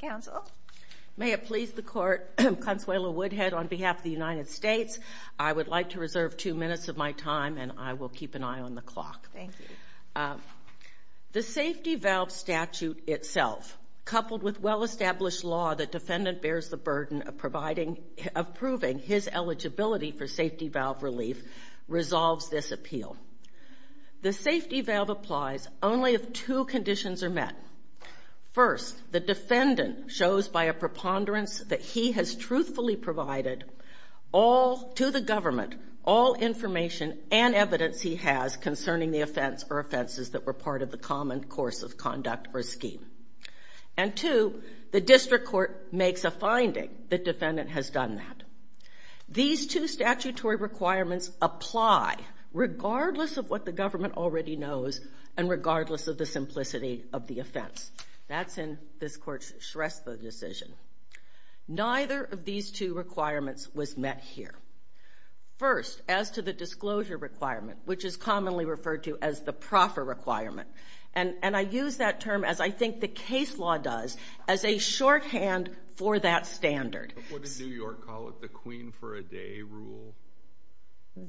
counsel may it please the court I'm Consuelo Woodhead on behalf of the United States I would like to reserve two minutes of my time and I will keep an eye on the clock thank you the safety valve statute itself coupled with well-established law that defendant bears the burden of providing approving his eligibility for safety valve relief resolves this appeal the safety valve applies only if two conditions are met first the defendant shows by a preponderance that he has truthfully provided all to the government all information and evidence he has concerning the offense or offenses that were part of the common course of conduct or scheme and to the district court makes a finding the defendant has done that these two statutory requirements apply regardless of what the government already knows and regardless of the simplicity of the offense that's in this court's Shrestha decision neither of these two requirements was met here first as to the disclosure requirement which is commonly referred to as the proffer requirement and and I use that term as I think the case law does as a shorthand for that standard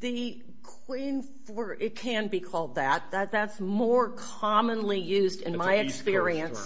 the Queen for it can be called that that's more commonly used in my experience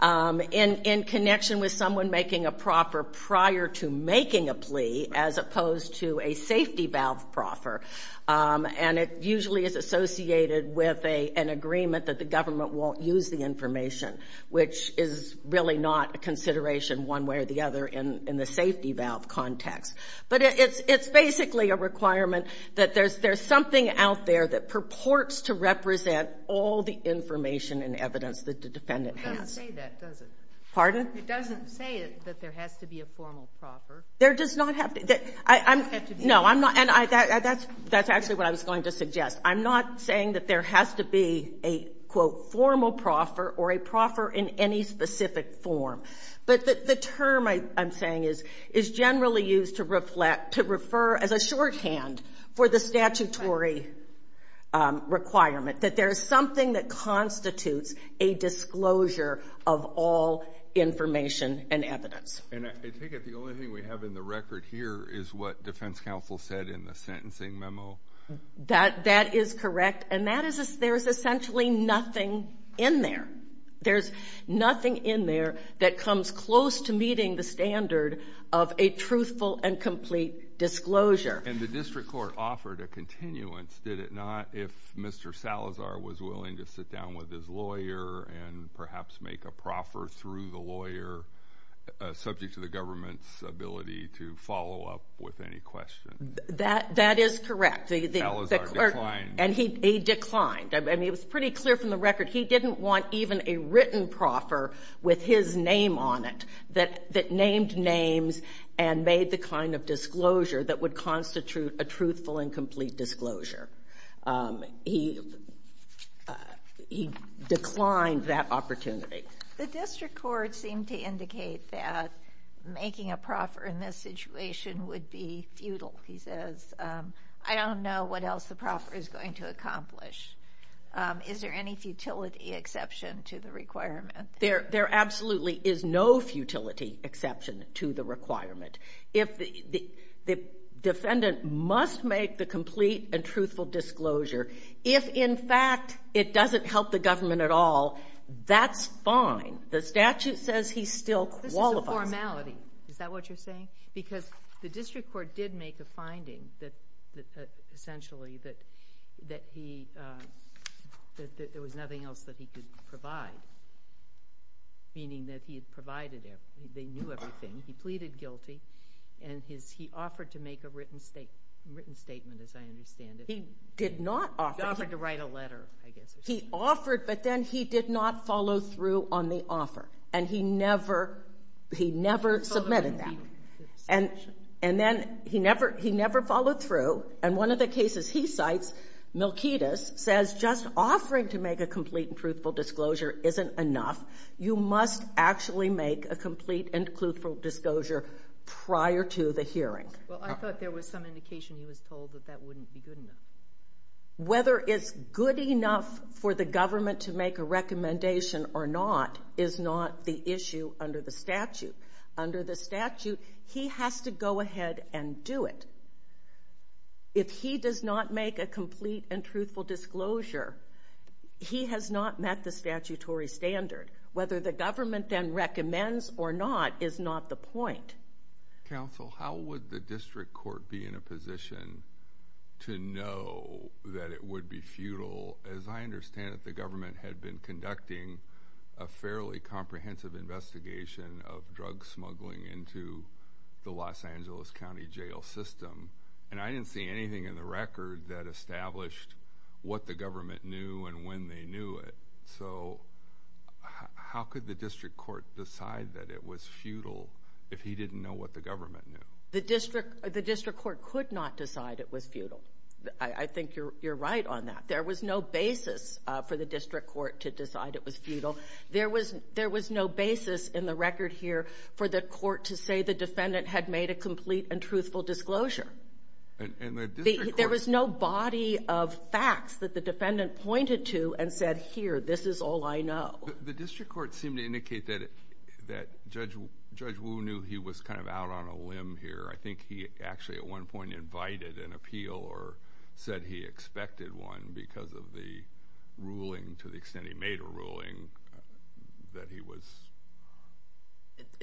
in in connection with someone making a proffer prior to making a plea as opposed to a safety valve proffer and it usually is associated with a an agreement that the government won't use the information which is really not a consideration one way or the other in in the safety valve context but it's it's basically a requirement that there's there's something out there that purports to represent all the information and evidence that the defendant has pardon it doesn't say that there has to be a formal proffer there does not have to get I know I'm not and I that's that's actually what I was going to suggest I'm not saying that there has to be a quote formal proffer or a proffer in any specific form but that the term I'm saying is is generally used to reflect to refer as a shorthand for the statutory requirement that there's something that constitutes a disclosure of all information and evidence and I think it's the only thing we have in the record here is what defense counsel said in the sentencing memo that that is correct and that is there's essentially nothing in there there's nothing in there that comes close to meeting the standard of a truthful and complete disclosure and the district court offered a continuance did it not if mr. Salazar was willing to sit down with his lawyer and perhaps make a proffer through the lawyer subject to the government's ability to follow up with any question that that is correct and he declined I mean it was pretty clear from the record he didn't want even a written proffer with his name on it that that named names and made the kind of disclosure that would constitute a truthful and complete disclosure he he declined that opportunity the district court seemed to indicate that making a what else the proper is going to accomplish is there any futility exception to the requirement there there absolutely is no futility exception to the requirement if the the defendant must make the complete and truthful disclosure if in fact it doesn't help the government at all that's fine the statute says he's still wall of formality is that what you're saying because the district court did make a finding that that essentially that that he that there was nothing else that he could provide meaning that he had provided there they knew everything he pleaded guilty and his he offered to make a written state written statement as I understand it he did not offer to write a letter I guess he offered but then he did not follow through on the and and then he never he never followed through and one of the cases he cites Milkidas says just offering to make a complete and truthful disclosure isn't enough you must actually make a complete and truthful disclosure prior to the hearing whether it's good enough for the government to make a recommendation or not is not the issue under the statute under the statute he has to go ahead and do it if he does not make a complete and truthful disclosure he has not met the statutory standard whether the government and recommends or not is not the point council how would the district court be in a position to know that it had been conducting a fairly comprehensive investigation of drug smuggling into the Los Angeles County Jail system and I didn't see anything in the record that established what the government knew and when they knew it so how could the district court decide that it was futile if he didn't know what the government the district the district court could not decide it was futile I to decide it was futile there was there was no basis in the record here for the court to say the defendant had made a complete and truthful disclosure there was no body of facts that the defendant pointed to and said here this is all I know the district court seemed to indicate that that judge judge who knew he was kind of out on a limb here I think he actually at one point invited an appeal or said he expected one because of the ruling to the extent he made a ruling that he was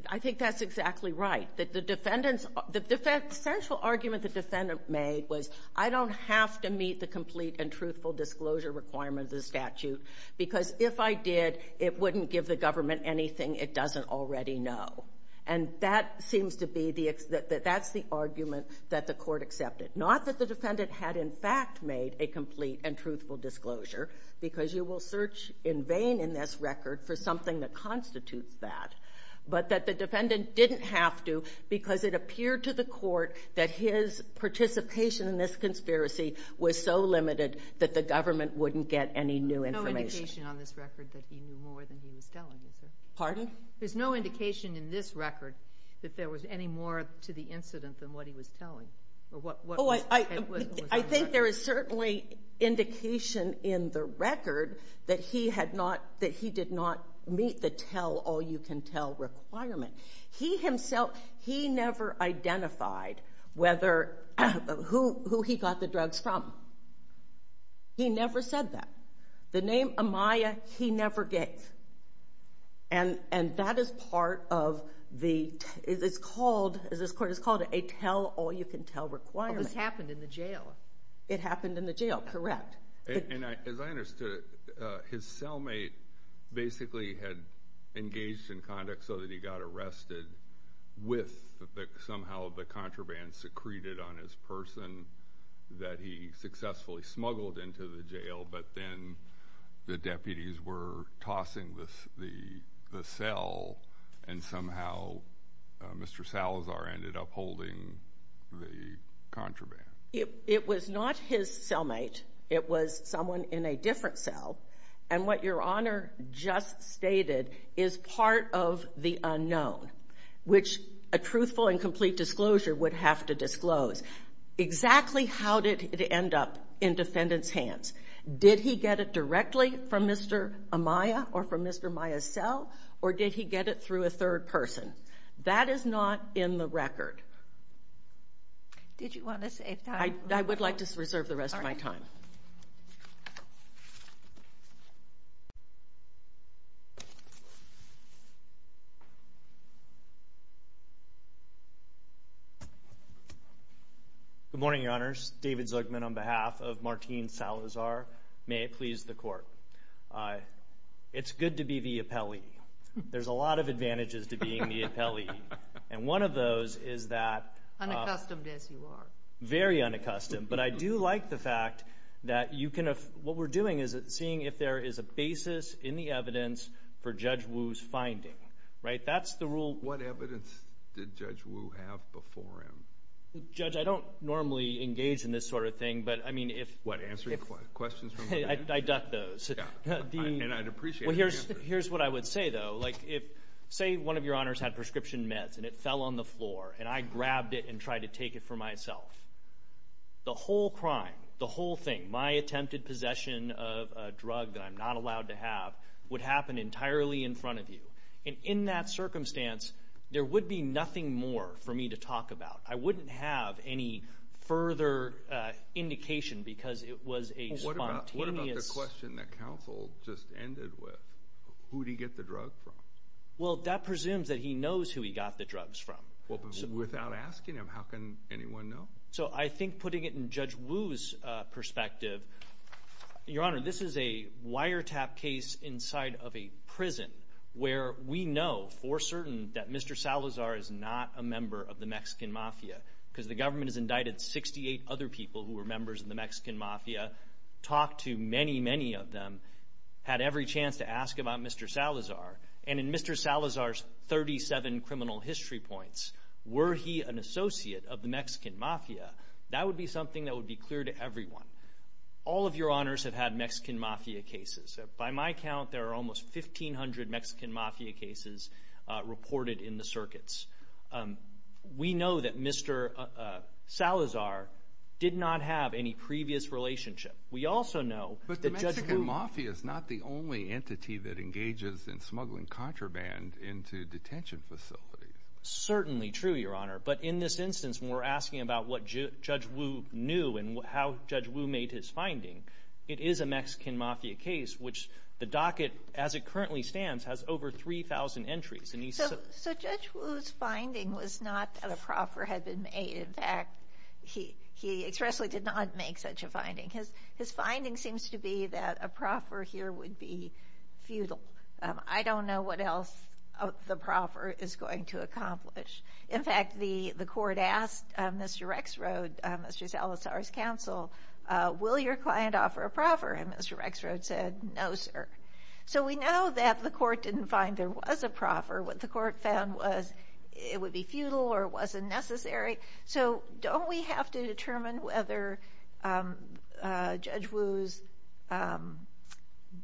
I think that's exactly right that the defendants the defense central argument the defendant made was I don't have to meet the complete and truthful disclosure requirement of the statute because if I did it wouldn't give the government anything it doesn't already know and seems to be the that's the argument that the court accepted not that the defendant had in fact made a complete and truthful disclosure because you will search in vain in this record for something that constitutes that but that the defendant didn't have to because it appeared to the court that his participation in this conspiracy was so limited that the government wouldn't get any new information on this record that he knew more than he was telling you sir pardon there's no indication in this record that there was any more to the incident than what he was telling but what what I think there is certainly indication in the record that he had not that he did not meet the tell-all-you-can- tell requirement he himself he never identified whether who he got the drugs from he never said that the name Amaya he never gave and and that is part of the it's called as this court is called a tell-all-you-can-tell requirement happened in the jail it happened in the jail correct and as I understood his cellmate basically had engaged in conduct so that he got arrested with somehow the contraband secreted on his person that he successfully smuggled into the jail but then the deputies were tossing this the cell and somehow mr. Salazar ended up holding the contraband it was not his cellmate it was someone in a different cell and what your honor just stated is part of the unknown which a truthful and complete disclosure would have to disclose exactly how did it end up in defendants hands did he get it directly from mr. Amaya or from mr. Maya cell or did he get it through a third person that is not in the record did you want to say I would like to reserve the rest of my time good morning your honors David Zuckman on behalf of Martine Salazar may it please the court I it's good to be the appellee there's a lot of advantages to very unaccustomed but I do like the fact that you can have what we're doing is it seeing if there is a basis in the evidence for judge Wu's finding right that's the rule what evidence did judge Wu have before him judge I don't normally engage in this sort of thing but I mean if what answer your questions I ducked those here's here's what I would say though like if say one of your honors had prescription meds and it fell on the floor and I grabbed it and tried to take it for myself the whole crime the whole thing my attempted possession of a drug that I'm not allowed to have would happen entirely in front of you and in that circumstance there would be nothing more for me to talk about I wouldn't have any further indication because it was a question that counsel just ended with who do you get the drug from well that presumes that he knows who he got the drugs from without asking him how can anyone know so I think putting it in judge Wu's perspective your honor this is a wiretap case inside of a prison where we know for certain that Mr. Salazar is not a member of the Mexican mafia because the government is indicted 68 other people who were members of the Mexican mafia talk to many many of them had every chance to Mr. Salazar and in Mr. Salazar's 37 criminal history points were he an associate of the Mexican mafia that would be something that would be clear to everyone all of your honors have had Mexican mafia cases by my count there are almost 1500 Mexican mafia cases reported in the circuits we know that Mr. Salazar did not have any previous relationship we also know but the engages in smuggling contraband into detention facilities certainly true your honor but in this instance we're asking about what judge Wu knew and how judge Wu made his finding it is a Mexican mafia case which the docket as it currently stands has over 3,000 entries and he said so judge Wu's finding was not that a proffer had been made in fact he he expressly did not make such a I don't know what else the proffer is going to accomplish in fact the the court asked mr. X road mr. Salazar's counsel will your client offer a proffer and mr. X road said no sir so we know that the court didn't find there was a proffer what the court found was it would be futile or wasn't necessary so don't we have to determine whether judge Wu's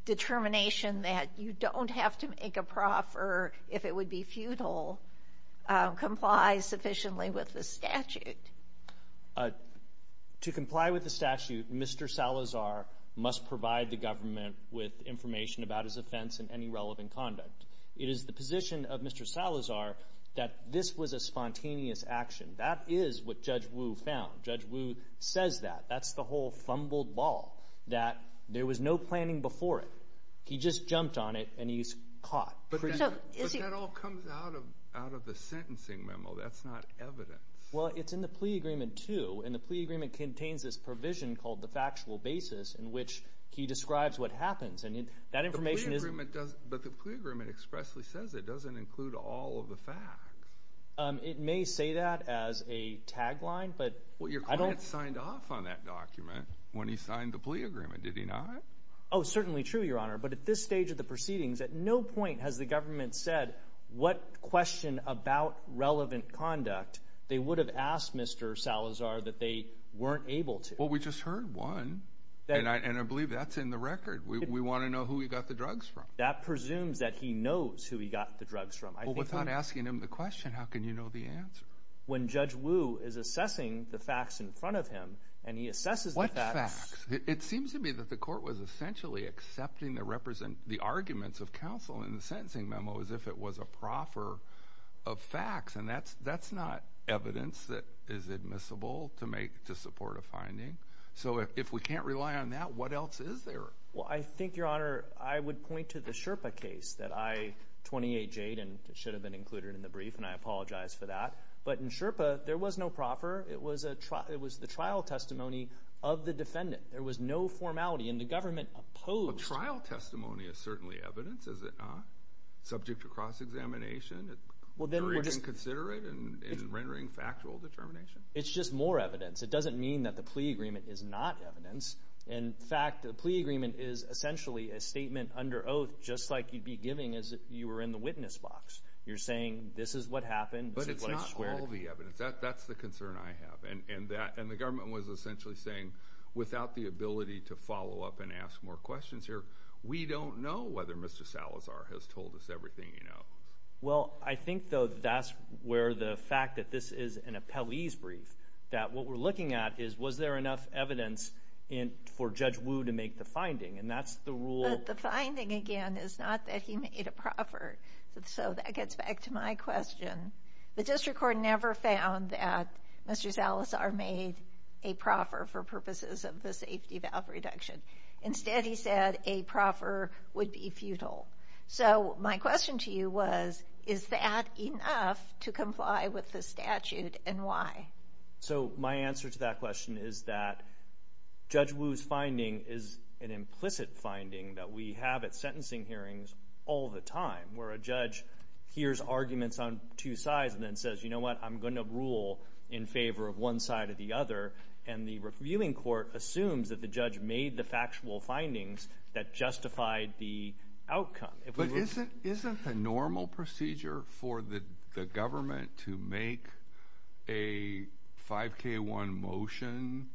determination that you don't have to make a proffer if it would be futile complies sufficiently with the statute to comply with the statute mr. Salazar must provide the government with information about his offense and any relevant conduct it is the position of that is what judge Wu found judge Wu says that that's the whole fumbled ball that there was no planning before it he just jumped on it and he's caught well it's in the plea agreement too and the plea agreement contains this provision called the factual basis in which he describes what happens and that information is but the agreement expressly says it doesn't include all of it may say that as a tagline but what your client signed off on that document when he signed the plea agreement did he not oh certainly true your honor but at this stage of the proceedings at no point has the government said what question about relevant conduct they would have asked mr. Salazar that they weren't able to well we just heard one and I believe that's in the record we want to know who he got the drugs from that presumes that he knows who he got the drugs from I think without asking him the question how can you know the answer when judge Wu is assessing the facts in front of him and he assesses like that it seems to me that the court was essentially accepting the represent the arguments of counsel in the sentencing memo as if it was a proffer of facts and that's that's not evidence that is admissible to make to support a finding so if we can't rely on that what else is there well I think your honor I would point to the Sherpa case that I 28 Jade and it should have been included in the brief and I apologize for that but in Sherpa there was no proffer it was a truck it was the trial testimony of the defendant there was no formality and the government opposed trial testimony is certainly evidence is it not subject to cross-examination well then we're just consider it and rendering factual determination it's just more evidence it doesn't mean that the plea agreement is not evidence in fact the plea agreement is essentially a under oath just like you'd be giving as you were in the witness box you're saying this is what happened but it's not all the evidence that that's the concern I have and and that and the government was essentially saying without the ability to follow up and ask more questions here we don't know whether mr. Salazar has told us everything you know well I think though that's where the fact that this is an appellee's brief that what we're looking at is was there enough evidence in for judge Wu to make the finding and that's the rule the finding again is not that he made a proffer so that gets back to my question the district court never found that mr. Salazar made a proffer for purposes of the safety valve reduction instead he said a proffer would be futile so my question to you was is that enough to comply with the statute and why so my answer to that question is that judge Wu's finding is an implicit finding that we have at sentencing hearings all the time where a judge hears arguments on two sides and then says you know what I'm going to rule in favor of one side of the other and the reviewing court assumes that the judge made the factual findings that justified the outcome but isn't isn't a normal procedure for the government to make a 5k one motion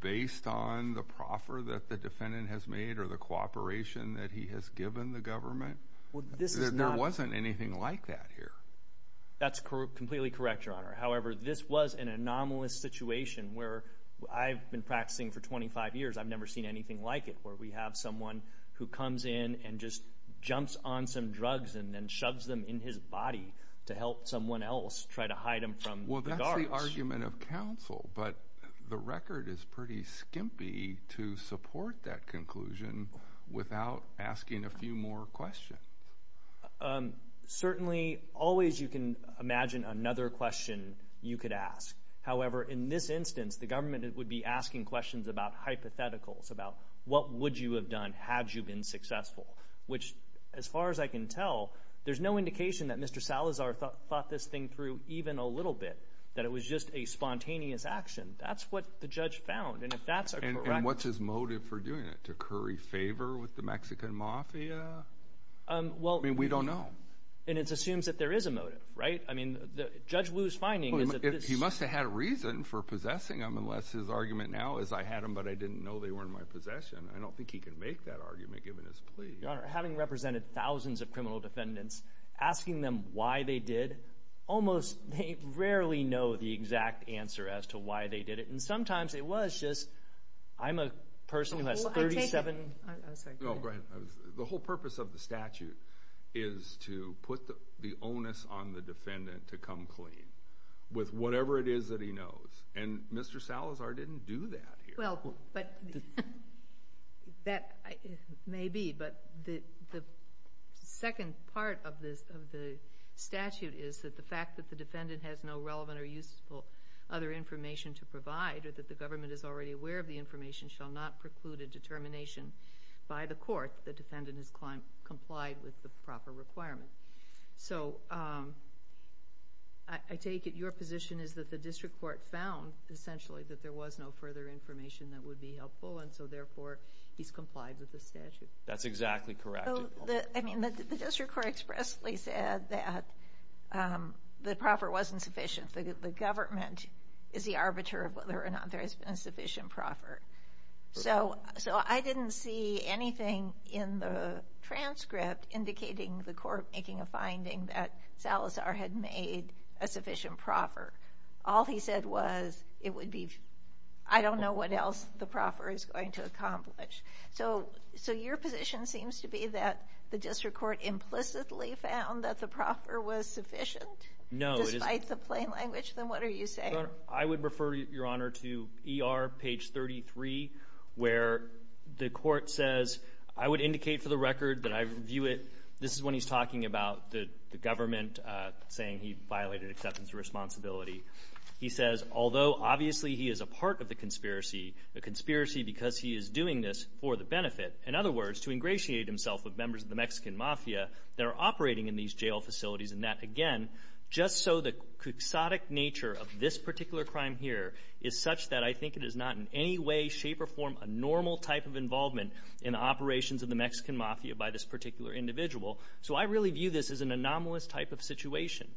based on the defendant has made or the cooperation that he has given the government well this is not there wasn't anything like that here that's completely correct your honor however this was an anomalous situation where I've been practicing for 25 years I've never seen anything like it where we have someone who comes in and just jumps on some drugs and then shoves them in his body to help someone else try to hide him from well that's the argument of counsel but the record is pretty skimpy to support that conclusion without asking a few more questions certainly always you can imagine another question you could ask however in this instance the government it would be asking questions about hypotheticals about what would you have done had you been successful which as far as I can tell there's no indication that mr. Salazar thought this thing through even a little bit that it was just a spontaneous action that's what the judge found and if that's what's his motive for doing it to curry favor with the Mexican Mafia well we don't know and it assumes that there is a motive right I mean the judge lose finding is that he must have had a reason for possessing him unless his argument now is I had him but I didn't know they were in my possession I don't think he could make that argument given his plea having represented thousands of criminal defendants asking them why they did almost rarely know the exact answer as to why they did it and sometimes it was just I'm a person who has 37 the whole purpose of the statute is to put the onus on the defendant to come clean with whatever it is that he knows and mr. Salazar didn't do that well but that may be but the second part of this of the statute is that the fact that the defendant has no relevant or useful other information to provide or that the government is already aware of the information shall not preclude a determination by the court the defendant has climbed complied with the proper requirement so I take it your position is that the district court found essentially that there was no further information that would be helpful and so therefore he's complied with the statute that's exactly correct I mean the district court expressly said that the proper wasn't sufficient the government is the arbiter of whether or not there has been a sufficient proffer so so I didn't see anything in the transcript indicating the court making a finding that Salazar had made a sufficient proffer all he said was it would be I don't know what else the proffer is going to accomplish so so your position seems to be that the district court implicitly found that the proffer was sufficient no despite the plain language then what are you saying I would refer your honor to er page 33 where the court says I would indicate for the record that I view it this is when he's talking about the government saying he violated acceptance of responsibility he says although obviously he is a part of the conspiracy the conspiracy because he is doing this for the benefit in other words to ingratiate himself with members of the Mexican mafia they're operating in these jail facilities and that again just so the exotic nature of this particular crime here is such that I think it is not in any way shape or form a normal type of involvement in operations of the Mexican mafia by this particular individual so I really view this is an anomalous type of situation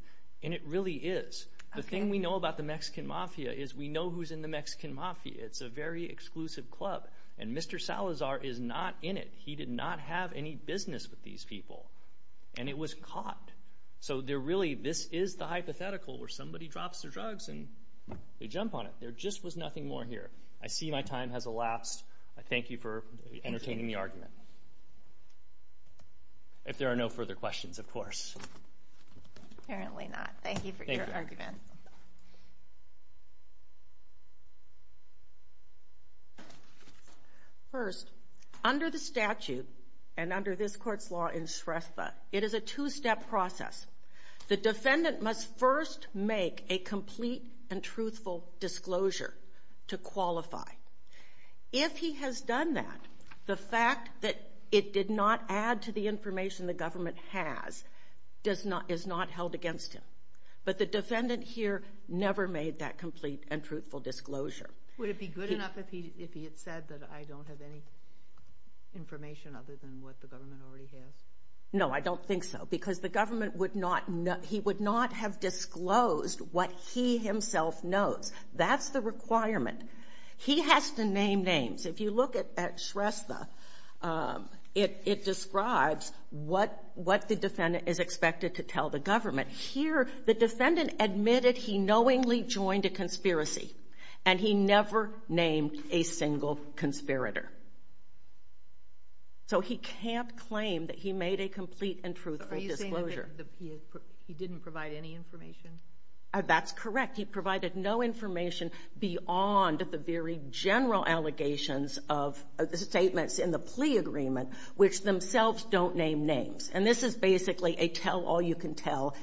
and it really is the thing we know about the Mexican mafia is we know who's in the Mexican mafia it's a very exclusive club and mr. Salazar is not in it he did not have any business with these people and it was caught so they're really this is the hypothetical where somebody drops their drugs and they jump on it there just was nothing more here I see my time has elapsed I thank you for entertaining the argument if there are no further questions of course first under the statute and under this court's law in Shrestha it is a two-step process the defendant must first make a complete and truthful disclosure to qualify if he has done that the fact that it did not add to the information the government has does not is not held against him but the defendant here never made that complete and truthful disclosure would it be good enough if he if he had said that I don't have any information other than what the government already has no I don't think so because the government would not know he would not have disclosed what he himself knows that's the requirement he has to name names if you look at Shrestha it describes what what the defendant is expected to tell the government here the defendant admitted he knowingly joined a conspiracy and he never named a single conspirator so he can't claim that he made a complete and truthful disclosure he didn't provide any information that's correct he provided no information beyond at the very general allegations of the statements in the plea agreement which themselves don't name names and this is basically a tell-all you can tell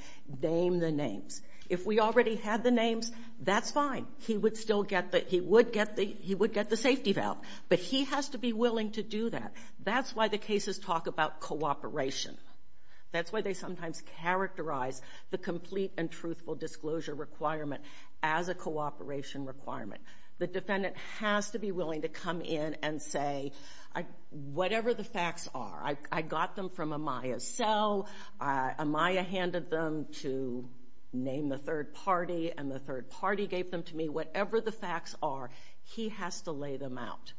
name the names if we already had the names that's fine he would still get that he would get the he would get the safety valve but he has to be willing to do that that's why the cases talk about cooperation that's why they sometimes characterize the complete and truthful disclosure requirement as a cooperation requirement the defendant has to be willing to come in and say I whatever the facts are I got them from Amaya's cell Amaya handed them to name the third party and the third party gave them to me whatever the facts are he has to lay them out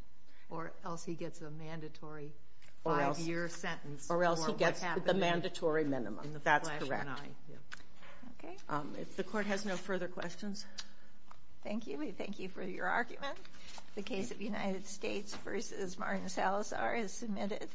or else he gets a mandatory five-year sentence or else he gets the we thank you for your argument the case of United States versus Martin Salazar is submitted